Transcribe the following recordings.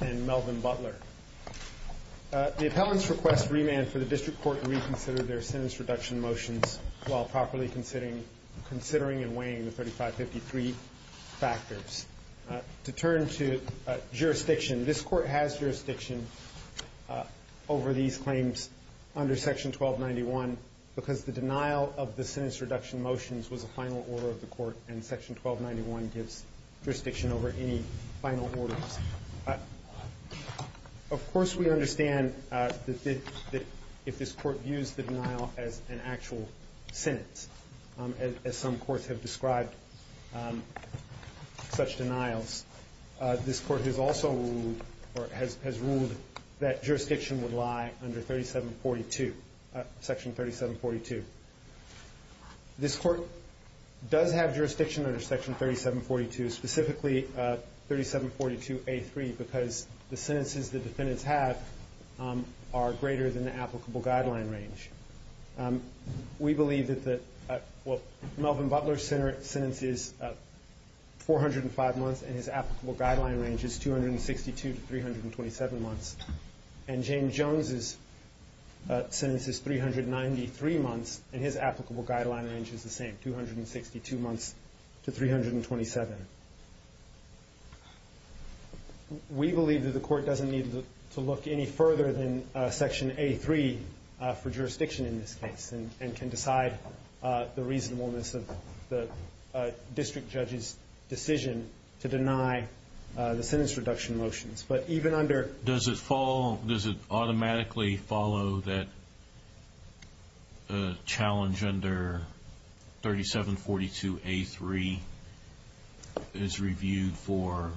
and Melvin Butler. The appellants request remand for the district court to reconsider their weighing the 3553 factors. To turn to jurisdiction, this court has jurisdiction over these claims under section 1291 because the denial of the sentence reduction motions was a final order of the court and section 1291 gives jurisdiction over any final orders. Of course we understand that if this court used the denial as an actual sentence, as some courts have described such denials, this court has also ruled that jurisdiction would lie under section 3742. This court does have jurisdiction under section 3742, specifically 3742A3 because the sentences the defendants have are greater than the applicable guideline range. We believe that Melvin Butler's sentence is 405 months and his applicable guideline range is 262 to 327 months and James Jones' sentence is 393 months and his applicable guideline range is the same, 262 months to look any further than section A3 for jurisdiction in this case and can decide the reasonableness of the district judge's decision to deny the sentence reduction motions. But even under... Does it automatically follow that the challenge under 3742A3 is reviewed for,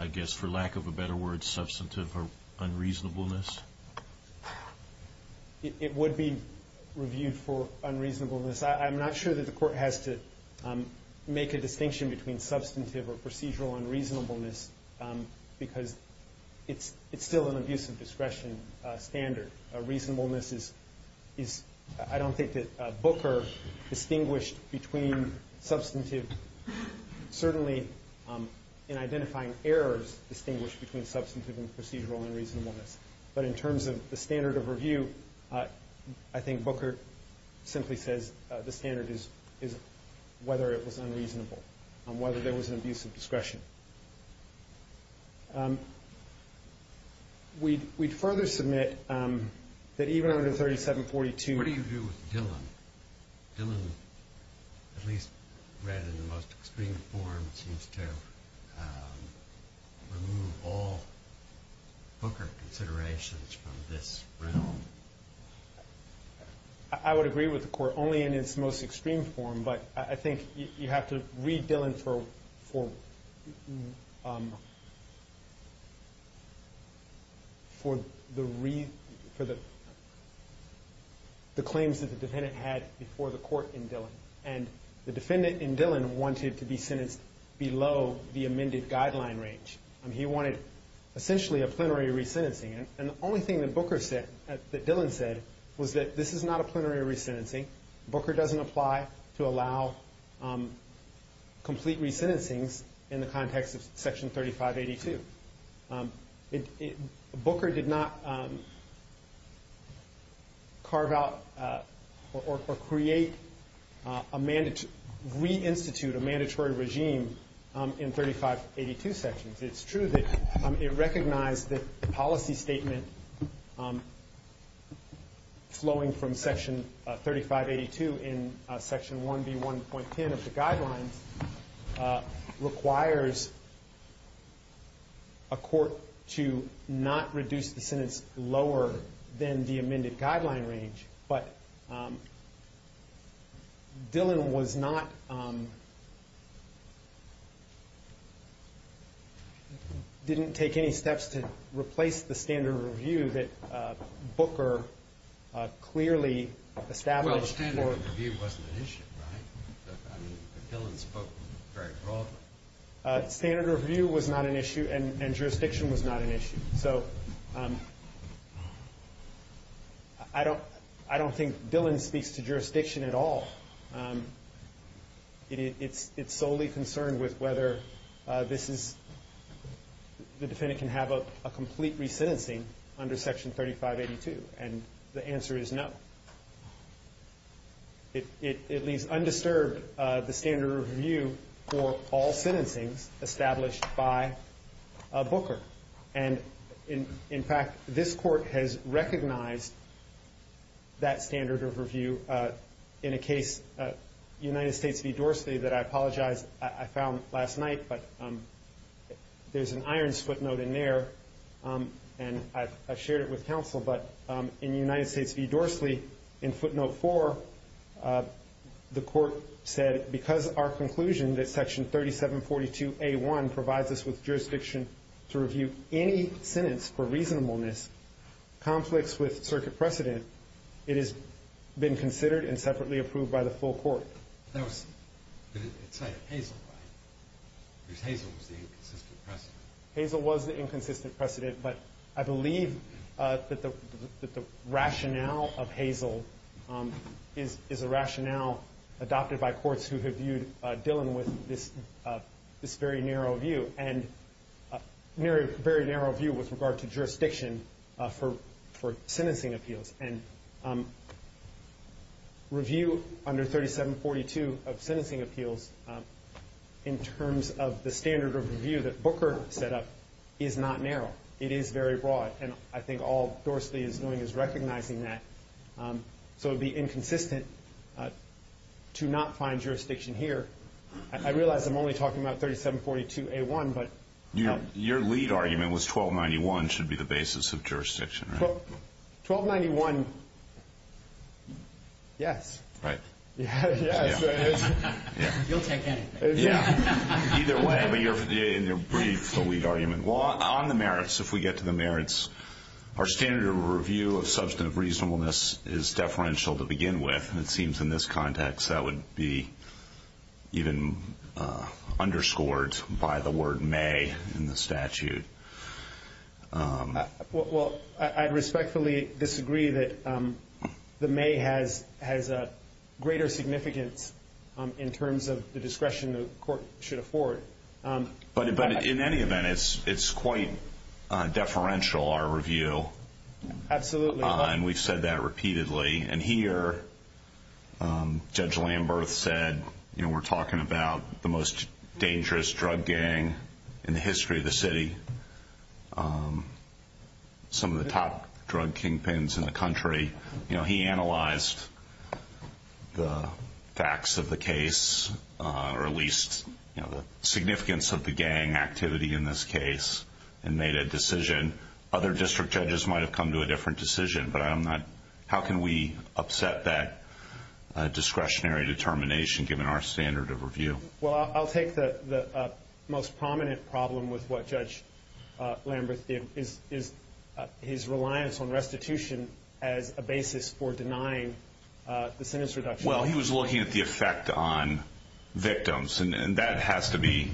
I guess for to give a better word, substantive or unreasonableness? It would be reviewed for unreasonableness. I'm not sure that the court has to make a distinction between substantive or procedural unreasonableness because it's still an abuse of discretion standard. Reasonableness is, I don't think that Booker distinguished between substantive, certainly in identifying errors, distinguished between substantive and procedural unreasonableness. But in terms of the standard of review, I think Booker simply says the standard is whether it was unreasonable, whether there was an abuse of discretion. We'd further submit that even under 3742... What do you do with Dillon? Dillon, at least read in the most extreme form, seems to remove all Booker considerations from this realm. I would agree with the court only in its most extreme form, but I think you have to read for the claims that the defendant had before the court in Dillon. And the defendant in Dillon wanted to be sentenced below the amended guideline range. He wanted essentially a plenary re-sentencing. And the only thing that Dillon said was that this is not a plenary re-sentencing. Booker doesn't apply to allow complete re-sentencings in the context of Section 3582. Booker did not carve out or create a... reinstitute a mandatory regime in 3582 sections. It's true that it recognized that the policy statement flowing from Section 3582 in Section 1B1.10 of the guidelines requires a court to not reduce the sentence lower than the amended didn't take any steps to replace the standard of review that Booker clearly established for... Well, the standard of review wasn't an issue, right? I mean, Dillon spoke very broadly. Standard of review was not an issue, and jurisdiction was not an issue. So, I don't think Dillon speaks to jurisdiction at all. It's solely concerned with whether this is... the defendant can have a complete re-sentencing under Section 3582, and the answer is no. It leaves undisturbed the standard of review for all sentencings established by Booker. And, in fact, this court has recognized that standard of review in a case... United States v. Dorsley that I apologize I found last night, but there's an irons footnote in there, and I've shared it with counsel, but in United States v. Dorsley, in footnote 4, the court said that Section 3742A1 provides us with jurisdiction to review any sentence for reasonableness, conflicts with circuit precedent, it has been considered and separately approved by the full court. It cited Hazel, right? Because Hazel was the inconsistent precedent. Hazel was the inconsistent precedent, but I believe that the rationale of Hazel is a rationale adopted by courts who have viewed Dillon with this very narrow view, and a very narrow view with regard to jurisdiction for sentencing appeals. And review under 3742 of sentencing appeals, in terms of the standard of review that Booker set up, is not narrow. It is very broad, and I think all Dorsley is doing is recognizing that. So it would be inconsistent to not find jurisdiction here. I realize I'm only talking about 3742A1, but... Your lead argument was 1291 should be the basis of jurisdiction, right? 1291, yes. Right. Yes. You'll take anything. Either way. In your brief, the lead argument. On the merits, if we get to the merits, our standard of review of substantive reasonableness is deferential to begin with, and it seems in this context that would be even underscored by the word may in the statute. Well, I'd respectfully disagree that the may has a greater significance in terms of the discretion the court should afford. But in any event, it's quite deferential, our review. Absolutely. And we've said that repeatedly. And here, Judge Lamberth said we're talking about the most dangerous drug gang in the history of the city, some of the top drug kingpins in the country. He analyzed the facts of the case or at least the significance of the gang activity in this case and made a decision. Other district judges might have come to a different decision, but how can we upset that discretionary determination given our standard of review? Well, I'll take the most prominent problem with what Judge Lamberth did is his reliance on restitution as a basis for denying the sentence reduction. Well, he was looking at the effect on victims, and that has to be,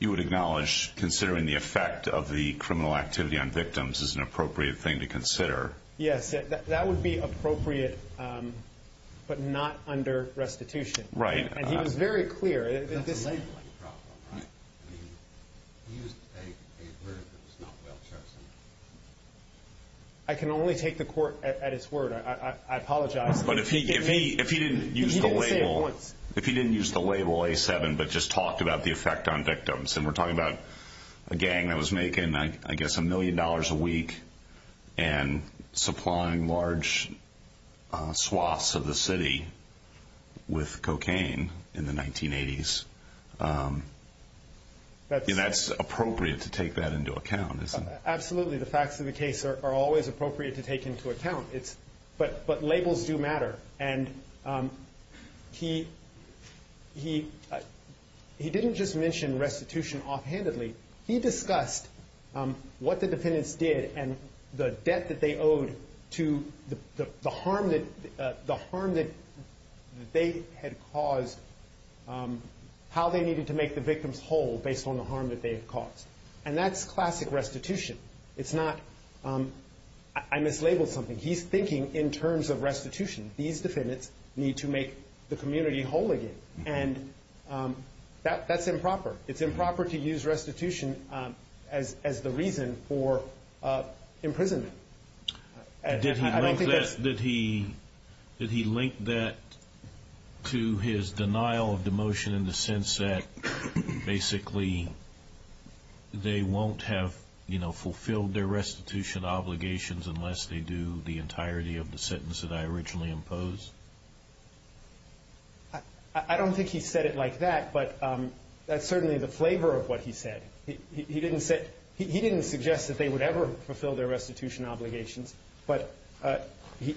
you would acknowledge, considering the effect of the criminal activity on victims is an appropriate thing to consider. Yes. That would be appropriate but not under restitution. Right. And he was very clear. That's a labeling problem, right? He used a word that was not well chosen. I can only take the court at its word. I apologize. But if he didn't use the label A7 but just talked about the effect on victims and we're talking about a gang that was making, I guess, a million dollars a week and supplying large swaths of the city with cocaine in the 1980s, that's appropriate to take that into account, isn't it? Absolutely. The facts of the case are always appropriate to take into account. But labels do matter. And he didn't just mention restitution offhandedly. He discussed what the defendants did and the debt that they owed to the harm that they had caused, how they needed to make the victims whole based on the harm that they had caused. And that's classic restitution. It's not, I mislabeled something. He's thinking in terms of restitution. These defendants need to make the community whole again. And that's improper. It's improper to use restitution as the reason for imprisonment. Did he link that to his denial of demotion in the sense that, basically, they won't have fulfilled their restitution obligations unless they do the entirety of the sentence that I originally imposed? I don't think he said it like that. But that's certainly the flavor of what he said. He didn't suggest that they would ever fulfill their restitution obligations. But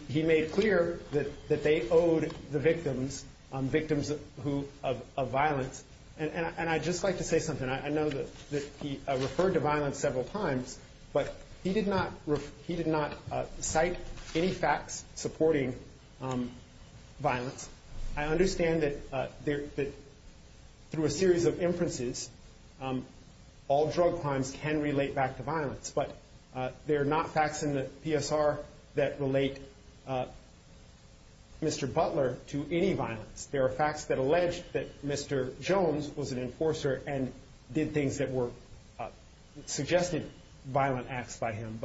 he made clear that they owed the victims of violence. And I'd just like to say something. I know that he referred to violence several times, but he did not cite any facts supporting violence. I understand that through a series of inferences, all drug crimes can relate back to violence. But there are not facts in the PSR that relate Mr. Butler to any violence. There are facts that allege that Mr. Jones was an enforcer and did things that were suggested violent acts by him.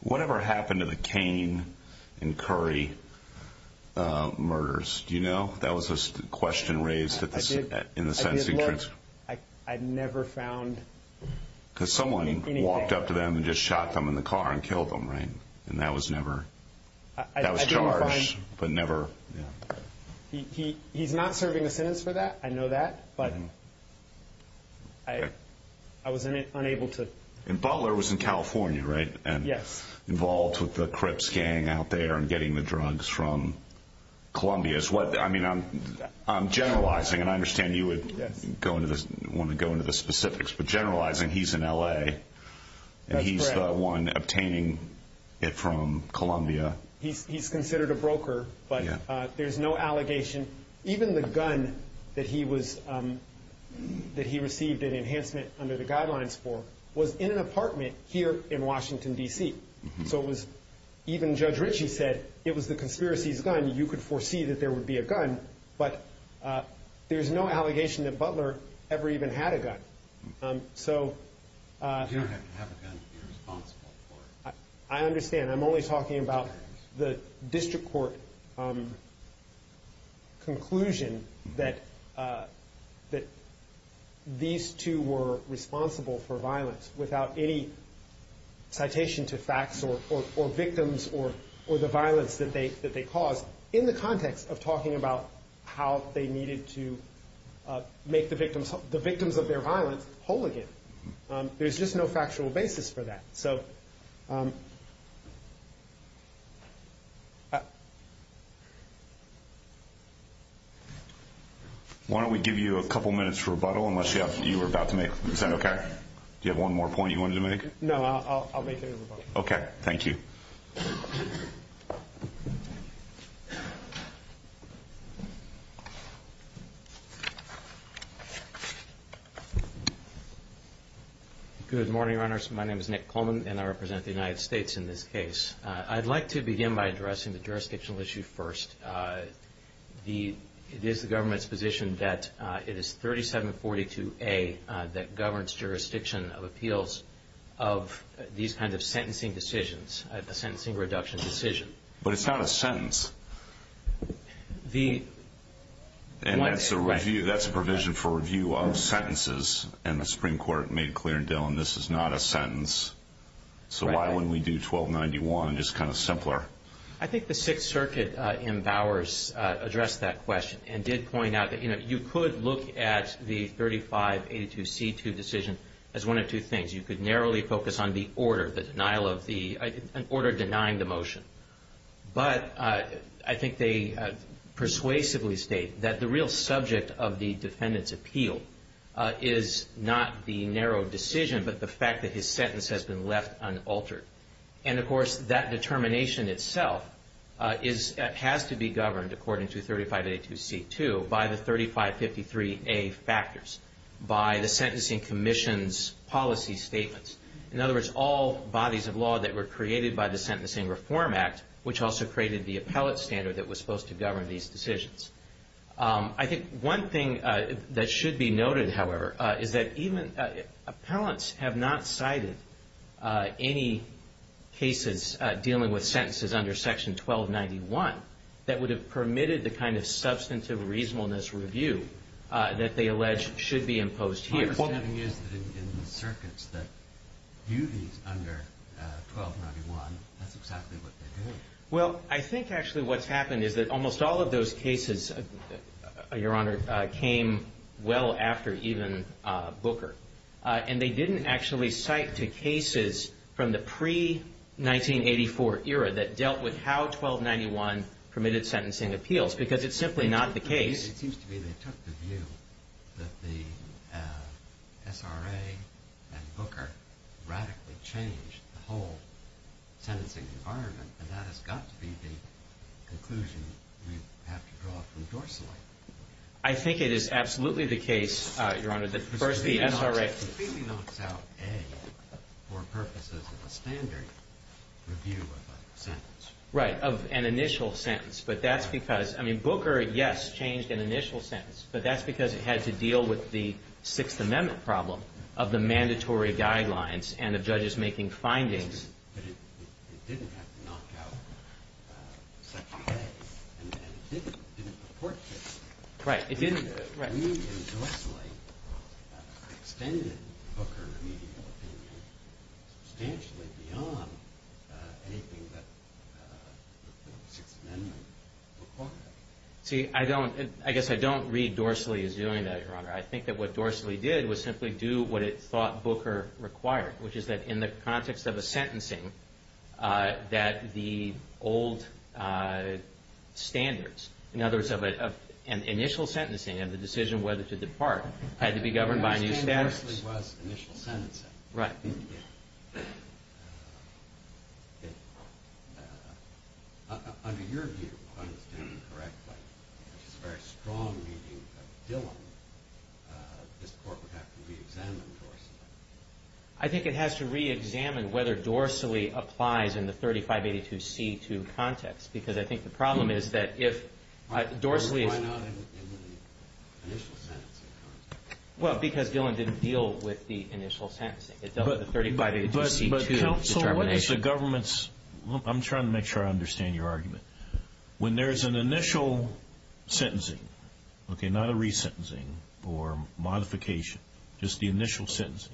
Whatever happened to the Cain and Curry murders, do you know? That was the question raised in the sentencing transcript. I never found anything. Because someone walked up to them and just shot them in the car and killed them, right? And that was never charged. He's not serving a sentence for that. I know that. But I was unable to. And Butler was in California, right? Yes. Involved with the Crips gang out there and getting the drugs from Columbia. I'm generalizing, and I understand you would want to go into the specifics, but generalizing, he's in L.A., and he's the one obtaining it from Columbia. He's considered a broker, but there's no allegation. Even the gun that he received an enhancement under the guidelines for was in an apartment here in Washington, D.C. Even Judge Ritchie said it was the conspiracy's gun. You could foresee that there would be a gun, but there's no allegation that Butler ever even had a gun. You don't have to have a gun to be responsible for it. I understand. I'm only talking about the district court conclusion that these two were responsible for violence without any citation to facts or victims or the violence that they caused in the context of talking about how they needed to make the victims of their violence whole again. There's just no factual basis for that. Why don't we give you a couple minutes to rebuttal unless you were about to make—is that okay? Do you have one more point you wanted to make? No, I'll make a rebuttal. Okay, thank you. Good morning, Your Honors. My name is Nick Coleman, and I represent the United States in this case. I'd like to begin by addressing the jurisdictional issue first. It is the government's position that it is 3742A that governs jurisdiction of appeals of these kinds of sentencing decisions, a sentencing reduction decision. But it's not a sentence. And that's a provision for review of sentences, and the Supreme Court made clear, Dillon, this is not a sentence. So why wouldn't we do 1291 just kind of simpler? I think the Sixth Circuit in Bowers addressed that question and did point out that you could look at the 3582C2 decision as one of two things. You could narrowly focus on the order, the denial of the—an order denying the motion. But I think they persuasively state that the real subject of the defendant's appeal is not the narrow decision but the fact that his sentence has been left unaltered. And, of course, that determination itself has to be governed, according to 3582C2, by the 3553A factors, by the Sentencing Commission's policy statements. In other words, all bodies of law that were created by the Sentencing Reform Act, which also created the appellate standard that was supposed to govern these decisions. I think one thing that should be noted, however, is that even—appellants have not cited any cases dealing with sentences under Section 1291 that would have permitted the kind of substantive reasonableness review that they allege should be imposed here. My understanding is that in the circuits that view these under 1291, that's exactly what they do. Well, I think actually what's happened is that almost all of those cases, Your Honor, came well after even Booker. And they didn't actually cite to cases from the pre-1984 era that dealt with how 1291 permitted sentencing appeals because it's simply not the case. It seems to me they took the view that the SRA and Booker radically changed the whole sentencing environment, and that has got to be the conclusion we have to draw from Dorseley. I think it is absolutely the case, Your Honor, that first the SRA— It completely knocks out A for purposes of a standard review of a sentence. Right, of an initial sentence, but that's because—I mean, Booker, yes, changed an initial sentence, but that's because it had to deal with the Sixth Amendment problem of the mandatory guidelines and of judges making findings. But it didn't have to knock out Section A, and it didn't purport to. Right. It didn't. I mean, Dorseley extended Booker's opinion substantially beyond anything that the Sixth Amendment required. See, I don't—I guess I don't read Dorseley as doing that, Your Honor. I think that what Dorseley did was simply do what it thought Booker required, which is that in the context of a sentencing that the old standards— in other words, of an initial sentencing and the decision whether to depart had to be governed by a new status. Dorseley was initial sentencing. Right. Under your view, if I understand it correctly, which is a very strong reading of Dillon, this Court would have to reexamine Dorseley. I think it has to reexamine whether Dorseley applies in the 3582C2 context, because I think the problem is that if Dorseley— Why not in the initial sentencing context? Well, because Dillon didn't deal with the initial sentencing. It dealt with the 3582C2 determination. But counsel, what is the government's—I'm trying to make sure I understand your argument. When there's an initial sentencing, okay, not a resentencing or modification, just the initial sentencing,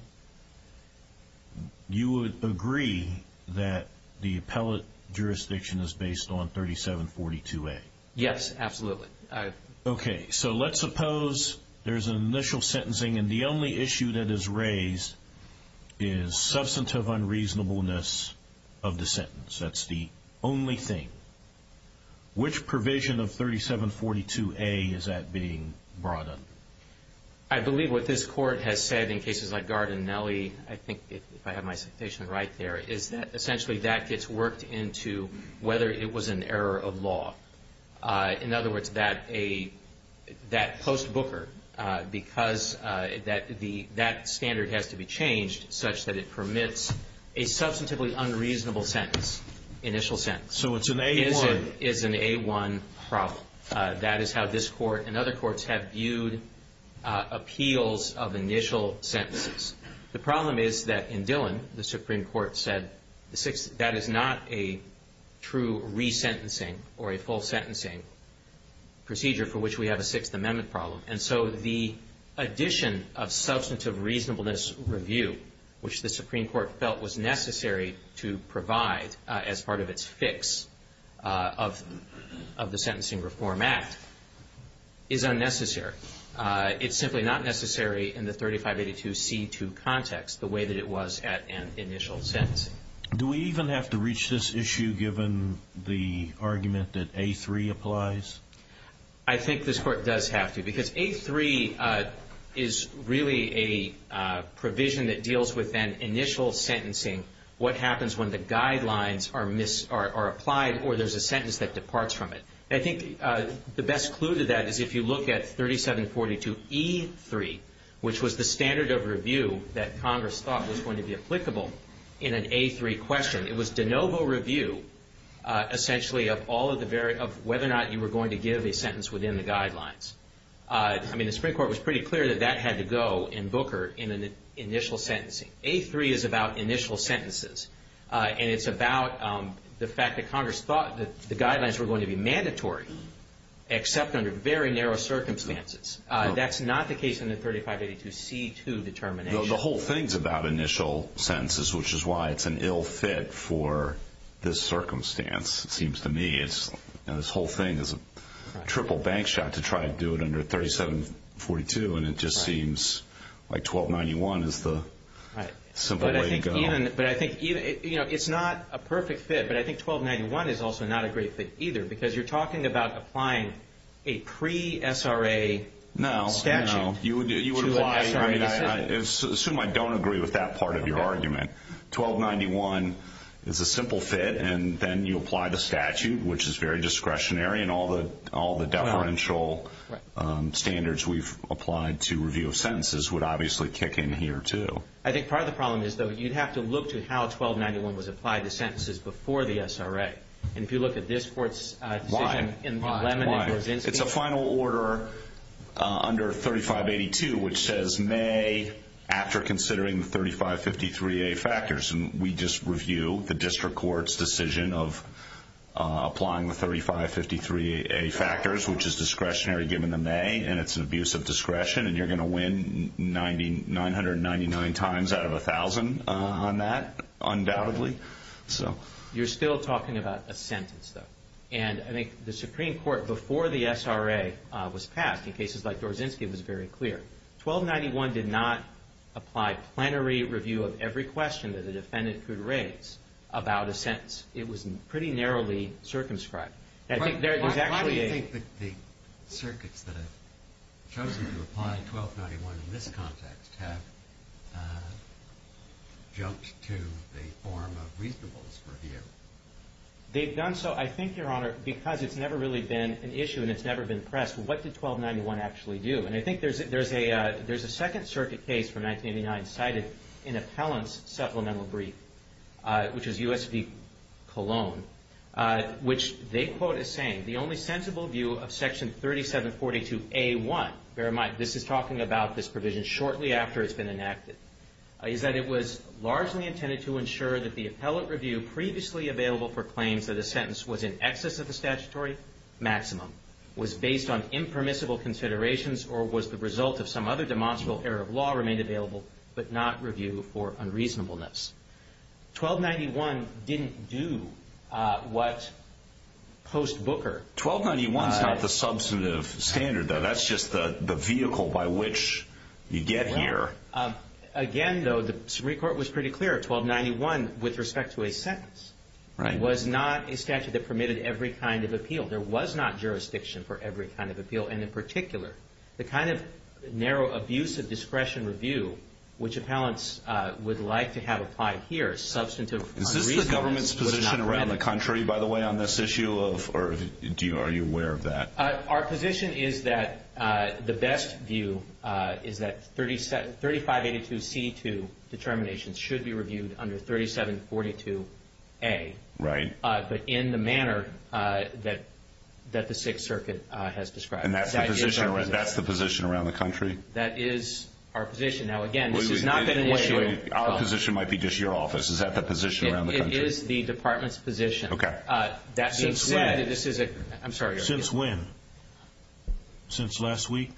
you would agree that the appellate jurisdiction is based on 3742A? Yes, absolutely. Okay, so let's suppose there's an initial sentencing and the only issue that is raised is substantive unreasonableness of the sentence. That's the only thing. Which provision of 3742A is that being brought under? I believe what this Court has said in cases like Gard and Nellie, I think if I have my citation right there, is that essentially that gets worked into whether it was an error of law. In other words, that post-Booker, because that standard has to be changed such that it permits a substantively unreasonable sentence, initial sentence. So it's an A1. It is an A1 problem. That is how this Court and other courts have viewed appeals of initial sentences. The problem is that in Dillon, the Supreme Court said that is not a true resentencing or a full sentencing procedure for which we have a Sixth Amendment problem. And so the addition of substantive reasonableness review, which the Supreme Court felt was necessary to provide as part of its fix of the Sentencing Reform Act, is unnecessary. It's simply not necessary in the 3582C2 context the way that it was at an initial sentence. Do we even have to reach this issue given the argument that A3 applies? I think this Court does have to, because A3 is really a provision that deals with an initial sentencing, what happens when the guidelines are applied or there's a sentence that departs from it. I think the best clue to that is if you look at 3742E3, which was the standard of review that Congress thought was going to be applicable in an A3 question. It was de novo review, essentially, of whether or not you were going to give a sentence within the guidelines. I mean, the Supreme Court was pretty clear that that had to go in Booker in an initial sentencing. A3 is about initial sentences, and it's about the fact that Congress thought that the guidelines were going to be mandatory, except under very narrow circumstances. That's not the case in the 3582C2 determination. The whole thing's about initial sentences, which is why it's an ill fit for this circumstance, it seems to me. This whole thing is a triple bank shot to try to do it under 3742, and it just seems like 1291 is the simple way to go. It's not a perfect fit, but I think 1291 is also not a great fit either because you're talking about applying a pre-SRA statute to an SRA fit. I assume I don't agree with that part of your argument. 1291 is a simple fit, and then you apply the statute, which is very discretionary, and all the deferential standards we've applied to review of sentences would obviously kick in here, too. I think part of the problem is, though, you'd have to look to how 1291 was applied to sentences before the SRA. If you look at this court's decision in Lemon and Gorzinski. It's a final order under 3582, which says May after considering the 3553A factors, and we just review the district court's decision of applying the 3553A factors, which is discretionary given the May, and it's an abuse of discretion, and you're going to win 999 times out of 1,000 on that, undoubtedly. You're still talking about a sentence, though, and I think the Supreme Court, before the SRA was passed in cases like Gorzinski, was very clear. 1291 did not apply plenary review of every question that a defendant could raise about a sentence. It was pretty narrowly circumscribed. Why do you think the circuits that have chosen to apply 1291 in this context have jumped to the form of reasonableness review? They've done so, I think, Your Honor, because it's never really been an issue and it's never been pressed. What did 1291 actually do? And I think there's a Second Circuit case from 1989 cited in Appellant's supplemental brief, which is U.S. v. Colon, which they quote as saying, the only sensible view of Section 3742A1, bear in mind, this is talking about this provision shortly after it's been enacted, is that it was largely intended to ensure that the appellate review previously available for claims that a sentence was in excess of the statutory maximum was based on impermissible considerations or was the result of some other demonstrable error of law remained available but not review for unreasonableness. 1291 didn't do what post-Booker... 1291's not the substantive standard, though. That's just the vehicle by which you get here. Again, though, the Supreme Court was pretty clear. 1291, with respect to a sentence, was not a statute that permitted every kind of appeal. There was not jurisdiction for every kind of appeal. And in particular, the kind of narrow abuse of discretion review, which appellants would like to have applied here, substantive unreasonable... Is this the government's position around the country, by the way, on this issue? Or are you aware of that? Our position is that the best view is that 3582C2 determinations should be reviewed under 3742A. Right. But in the manner that the Sixth Circuit has described. And that's the position around the country? That is our position. Now, again, this is not an issue... Our position might be just your office. Is that the position around the country? It is the department's position. Okay. Since when? I'm sorry. Since when? Since last week?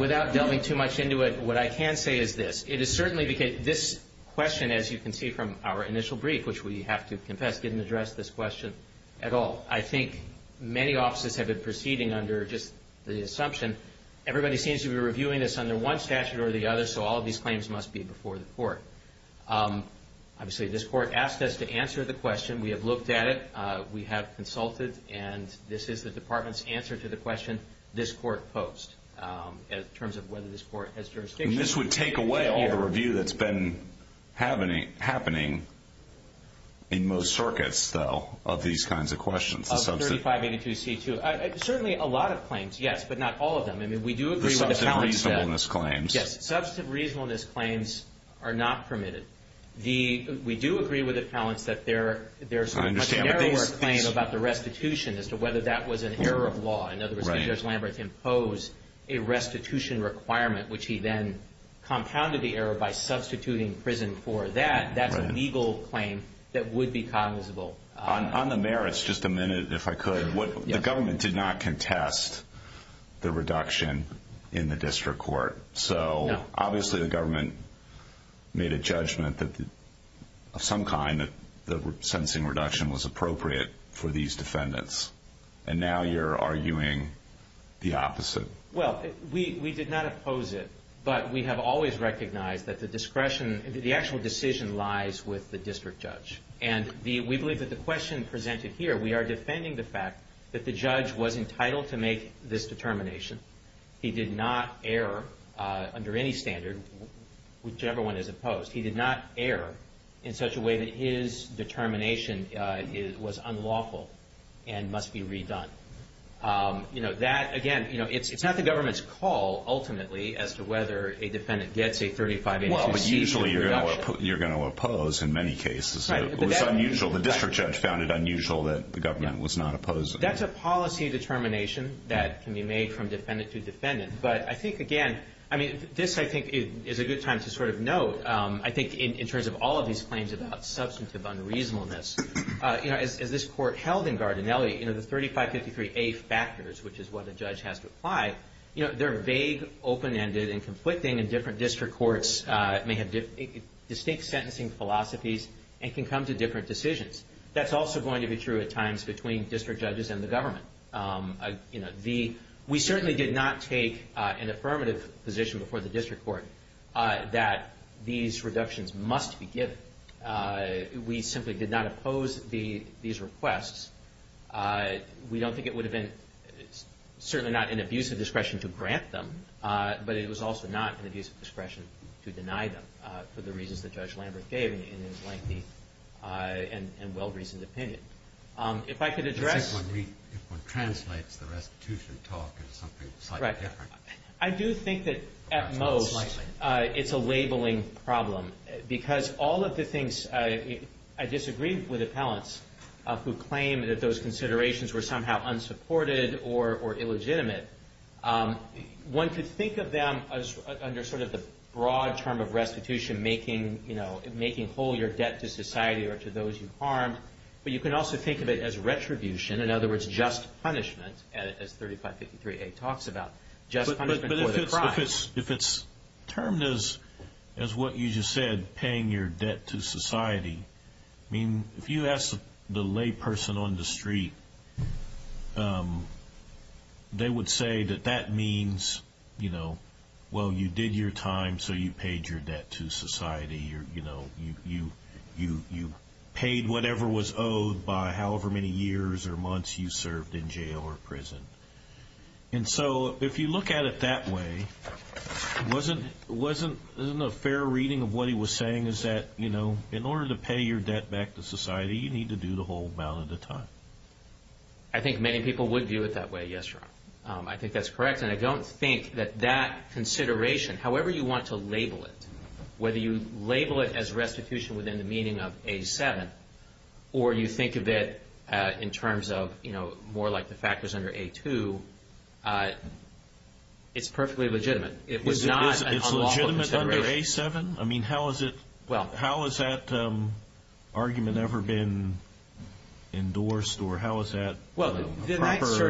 Without delving too much into it, what I can say is this. It is certainly because this question, as you can see from our initial brief, which we have to confess didn't address this question at all. I think many offices have been proceeding under just the assumption, everybody seems to be reviewing this under one statute or the other, so all of these claims must be before the court. Obviously, this court asked us to answer the question. We have looked at it. We have consulted. And this is the department's answer to the question this court posed in terms of whether this court has jurisdiction. And this would take away all the review that's been happening in most circuits, though, of these kinds of questions. Of 3582C2. Certainly a lot of claims, yes, but not all of them. I mean, we do agree with the talents that... The substantive reasonableness claims. Yes. Substantive reasonableness claims are not permitted. We do agree with the talents that there's a much narrower claim about the restitution as to whether that was an error of law. In other words, if Judge Lamberth imposed a restitution requirement, which he then compounded the error by substituting prison for that, that's a legal claim that would be cognizable. On the merits, just a minute, if I could. The government did not contest the reduction in the district court. So obviously the government made a judgment of some kind that the sentencing reduction was appropriate for these defendants. And now you're arguing the opposite. Well, we did not oppose it, but we have always recognized that the discretion, the actual decision lies with the district judge. And we believe that the question presented here, we are defending the fact that the judge was entitled to make this determination. He did not err under any standard, whichever one is opposed. He did not err in such a way that his determination was unlawful and must be redone. You know, that, again, you know, it's not the government's call ultimately as to whether a defendant gets a 3582C. Well, but usually you're going to oppose in many cases. It was unusual. The district judge found it unusual that the government was not opposed. That's a policy determination that can be made from defendant to defendant. But I think, again, I mean, this, I think, is a good time to sort of note, I think, in terms of all of these claims about substantive unreasonableness, you know, as this court held in Gardinelli, you know, the 3553A factors, which is what a judge has to apply, you know, they're vague, open-ended, and conflicting. And different district courts may have distinct sentencing philosophies and can come to different decisions. That's also going to be true at times between district judges and the government. You know, we certainly did not take an affirmative position before the district court that these reductions must be given. We simply did not oppose these requests. We don't think it would have been certainly not an abuse of discretion to grant them, but it was also not an abuse of discretion to deny them for the reasons that Judge Lambert gave in his lengthy and well-reasoned opinion. If I could address- If one translates the restitution talk into something slightly different. I do think that at most it's a labeling problem because all of the things, I disagree with appellants who claim that those considerations were somehow unsupported or illegitimate. One could think of them as under sort of the broad term of restitution making, you know, but you could also think of it as retribution. In other words, just punishment as 3553A talks about. Just punishment for the crime. But if it's termed as what you just said, paying your debt to society. I mean, if you ask the lay person on the street, they would say that that means, you know, well, you did your time, so you paid your debt to society. You know, you paid whatever was owed by however many years or months you served in jail or prison. And so if you look at it that way, wasn't a fair reading of what he was saying is that, you know, in order to pay your debt back to society, you need to do the whole amount at a time. I think many people would view it that way. Yes, Your Honor. I think that's correct, and I don't think that that consideration, however you want to label it, whether you label it as restitution within the meaning of A7, or you think of it in terms of, you know, more like the factors under A2, it's perfectly legitimate. It was not an unlawful consideration. It's legitimate under A7? I mean, how has that argument ever been endorsed, or how is that proper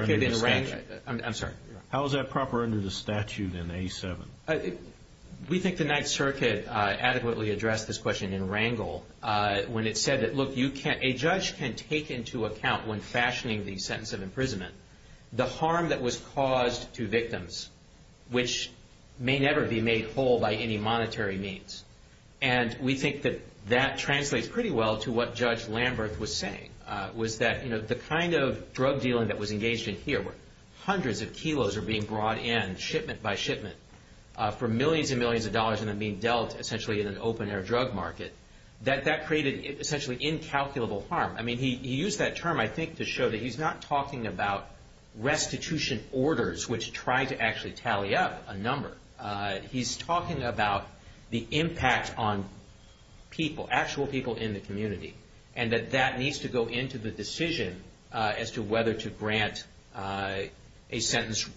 under the statute? I'm sorry. How is that proper under the statute in A7? We think the Ninth Circuit adequately addressed this question in Wrangell when it said that, look, a judge can take into account when fashioning the sentence of imprisonment the harm that was caused to victims, which may never be made whole by any monetary means. And we think that that translates pretty well to what Judge Lamberth was saying, was that, you know, the kind of drug dealing that was engaged in here where hundreds of kilos are being brought in, shipment by shipment, for millions and millions of dollars and then being dealt essentially in an open-air drug market, that that created essentially incalculable harm. I mean, he used that term, I think, to show that he's not talking about restitution orders, which try to actually tally up a number. He's talking about the impact on people, actual people in the community, and that that needs to go into the decision as to whether to grant a sentence,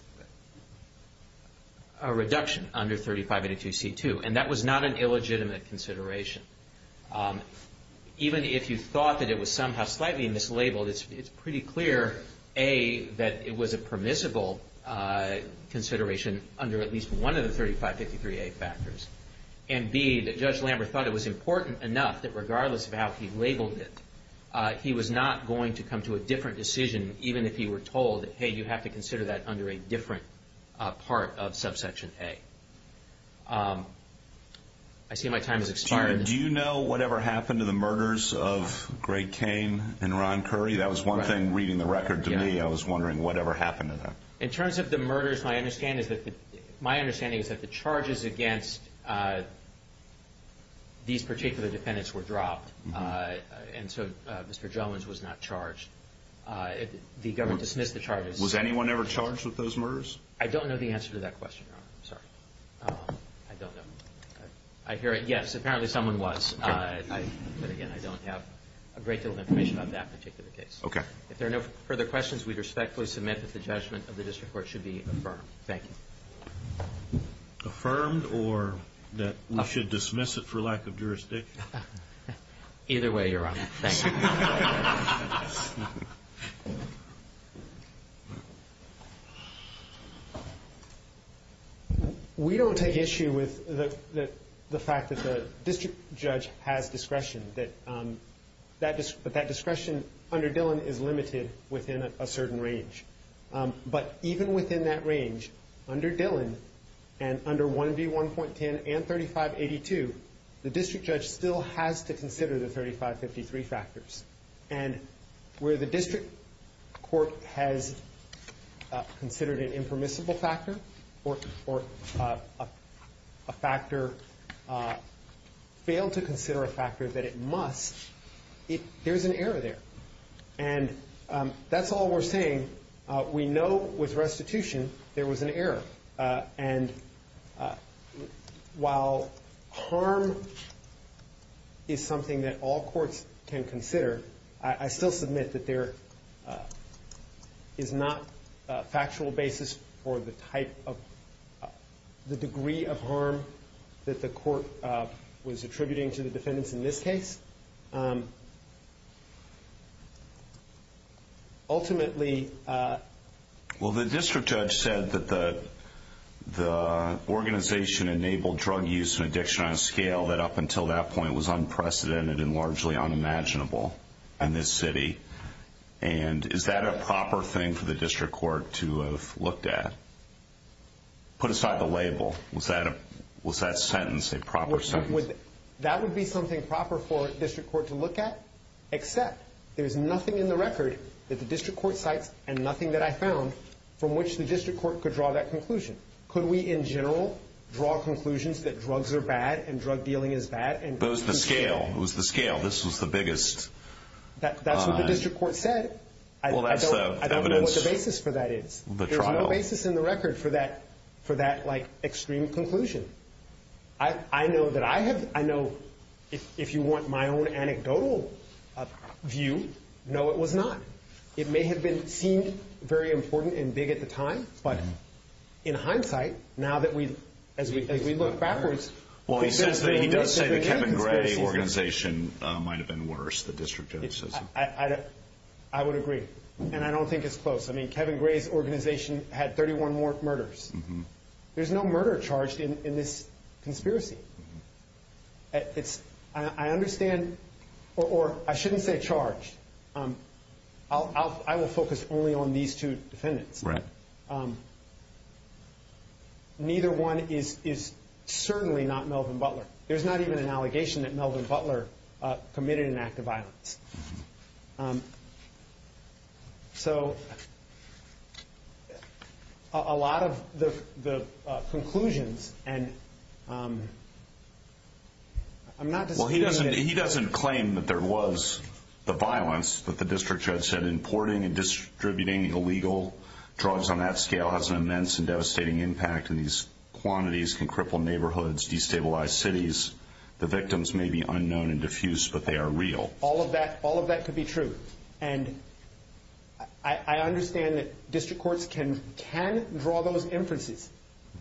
a reduction under 3582C2, and that was not an illegitimate consideration. Even if you thought that it was somehow slightly mislabeled, it's pretty clear, A, that it was a permissible consideration under at least one of the 3553A factors, and B, that Judge Lamberth thought it was important enough that regardless of how he labeled it, he was not going to come to a different decision even if he were told, hey, you have to consider that under a different part of subsection A. I see my time has expired. Do you know whatever happened to the murders of Greg Kane and Ron Curry? That was one thing reading the record to me, I was wondering whatever happened to them. In terms of the murders, my understanding is that the charges against these particular defendants were dropped, and so Mr. Jones was not charged. The government dismissed the charges. Was anyone ever charged with those murders? I don't know the answer to that question, Your Honor. I'm sorry. I don't know. I hear it, yes, apparently someone was. But, again, I don't have a great deal of information on that particular case. Okay. If there are no further questions, we respectfully submit that the judgment of the district court should be affirmed. Thank you. Affirmed or that we should dismiss it for lack of jurisdiction? Either way, Your Honor. Thank you. We don't take issue with the fact that the district judge has discretion, but that discretion under Dillon is limited within a certain range. But even within that range, under Dillon and under 1B1.10 and 3582, the district judge still has to consider the 3553 factors. And where the district court has considered an impermissible factor or a factor, failed to consider a factor that it must, there's an error there. And that's all we're saying. We know with restitution there was an error. And while harm is something that all courts can consider, I still submit that there is not a factual basis for the type of, the degree of harm that the court was attributing to the defendants in this case. Ultimately. Well, the district judge said that the organization enabled drug use and addiction on a scale that up until that point was unprecedented and largely unimaginable in this city. And is that a proper thing for the district court to have looked at? Put aside the label. Was that sentence a proper sentence? That would be something proper for a district court to look at, except there's nothing in the record that the district court cites and nothing that I found from which the district court could draw that conclusion. Could we, in general, draw conclusions that drugs are bad and drug dealing is bad? It was the scale. This was the biggest. That's what the district court said. I don't know what the basis for that is. There's no basis in the record for that extreme conclusion. I know that I have, I know, if you want my own anecdotal view, no, it was not. It may have seemed very important and big at the time, but in hindsight, now that we, as we look backwards. Well, he says that he does say that Kevin Gray's organization might have been worse, the district judge says. I would agree, and I don't think it's close. I mean, Kevin Gray's organization had 31 more murders. There's no murder charged in this conspiracy. I understand, or I shouldn't say charged. I will focus only on these two defendants. Right. Neither one is certainly not Melvin Butler. There's not even an allegation that Melvin Butler committed an act of violence. So, a lot of the conclusions, and I'm not disputing that. He doesn't claim that there was the violence that the district judge said. Importing and distributing illegal drugs on that scale has an immense and devastating impact, and these quantities can cripple neighborhoods, destabilize cities. The victims may be unknown and diffuse, but they are real. All of that could be true, and I understand that district courts can draw those inferences,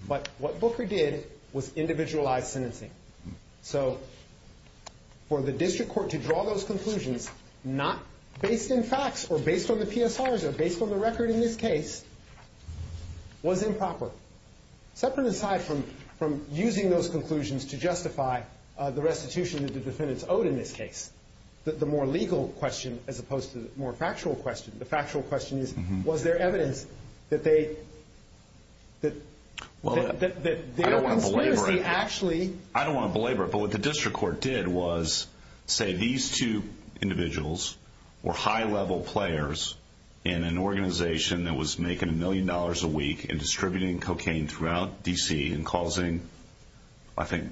but what Booker did was individualized sentencing. So, for the district court to draw those conclusions, not based in facts or based on the PSRs or based on the record in this case, was improper. Separate aside from using those conclusions to justify the restitution that the defendants owed in this case, the more legal question as opposed to the more factual question, the factual question is, was there evidence that their conspiracy actually I don't want to belabor it, but what the district court did was say these two individuals were high-level players in an organization that was making a million dollars a week in distributing cocaine throughout D.C. and causing, I think,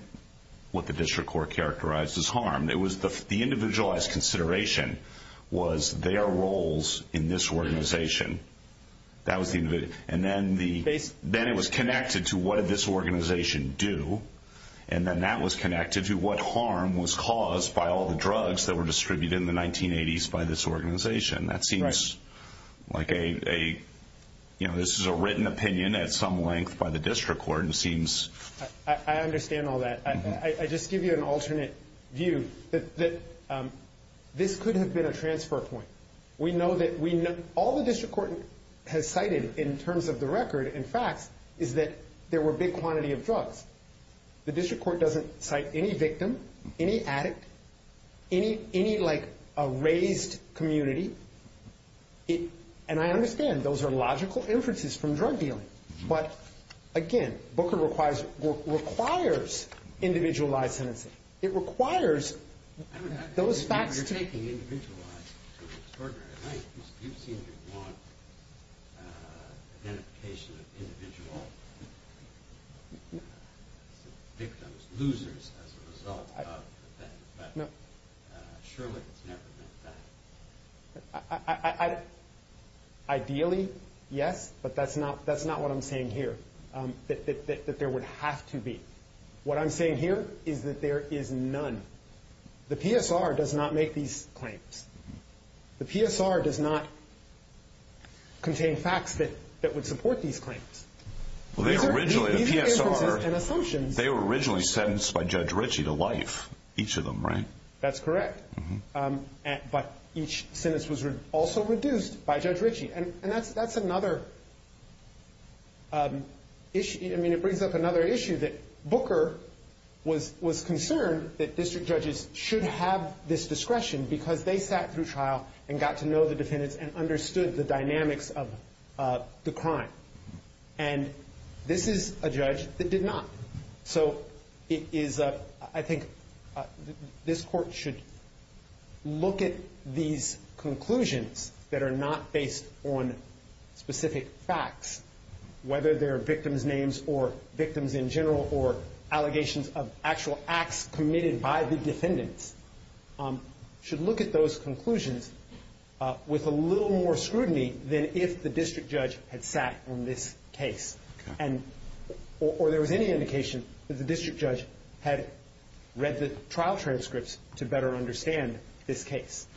what the district court characterized as harm. The individualized consideration was their roles in this organization. Then it was connected to what did this organization do, and then that was connected to what harm was caused by all the drugs that were distributed in the 1980s by this organization. That seems like this is a written opinion at some length by the district court. I understand all that. I just give you an alternate view that this could have been a transfer point. We know that all the district court has cited in terms of the record and facts is that there were a big quantity of drugs. The district court doesn't cite any victim, any addict, any raised community. I understand those are logical inferences from drug dealing, but again, Booker requires individualized sentencing. It requires those facts to- You're taking individualized to an extraordinary length. You seem to want identification of individual victims, losers, as a result of that. But surely it's never been that. Ideally, yes, but that's not what I'm saying here, that there would have to be. What I'm saying here is that there is none. The PSR does not make these claims. The PSR does not contain facts that would support these claims. These are inferences and assumptions. They were originally sentenced by Judge Ritchie to life, each of them, right? That's correct, but each sentence was also reduced by Judge Ritchie. That's another issue. It brings up another issue that Booker was concerned that district judges should have this discretion because they sat through trial and got to know the defendants and understood the dynamics of the crime. This is a judge that did not. I think this court should look at these conclusions that are not based on specific facts, whether they're victims' names or victims in general or allegations of actual acts committed by the defendants. It should look at those conclusions with a little more scrutiny than if the district judge had sat on this case or there was any indication that the district judge had read the trial transcripts to better understand this case.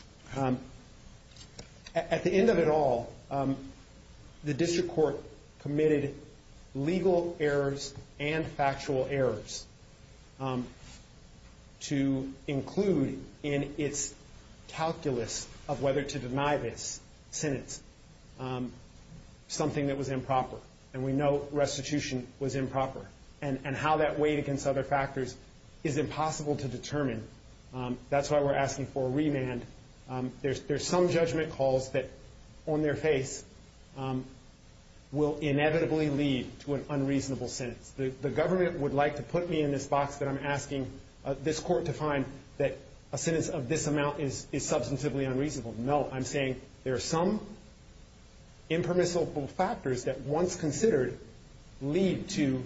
At the end of it all, the district court committed legal errors and factual errors to include in its calculus of whether to deny this sentence something that was improper. And we know restitution was improper. And how that weighed against other factors is impossible to determine. That's why we're asking for a remand. There's some judgment calls that, on their face, will inevitably lead to an unreasonable sentence. The government would like to put me in this box, but I'm asking this court to find that a sentence of this amount is substantively unreasonable. No, I'm saying there are some impermissible factors that, once considered, lead to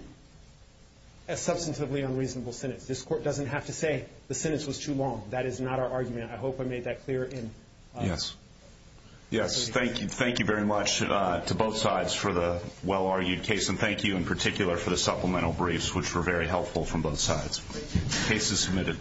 a substantively unreasonable sentence. This court doesn't have to say the sentence was too long. That is not our argument. I hope I made that clear. Yes. Yes. Thank you very much to both sides for the well-argued case, and thank you in particular for the supplemental briefs, which were very helpful from both sides. The case is submitted.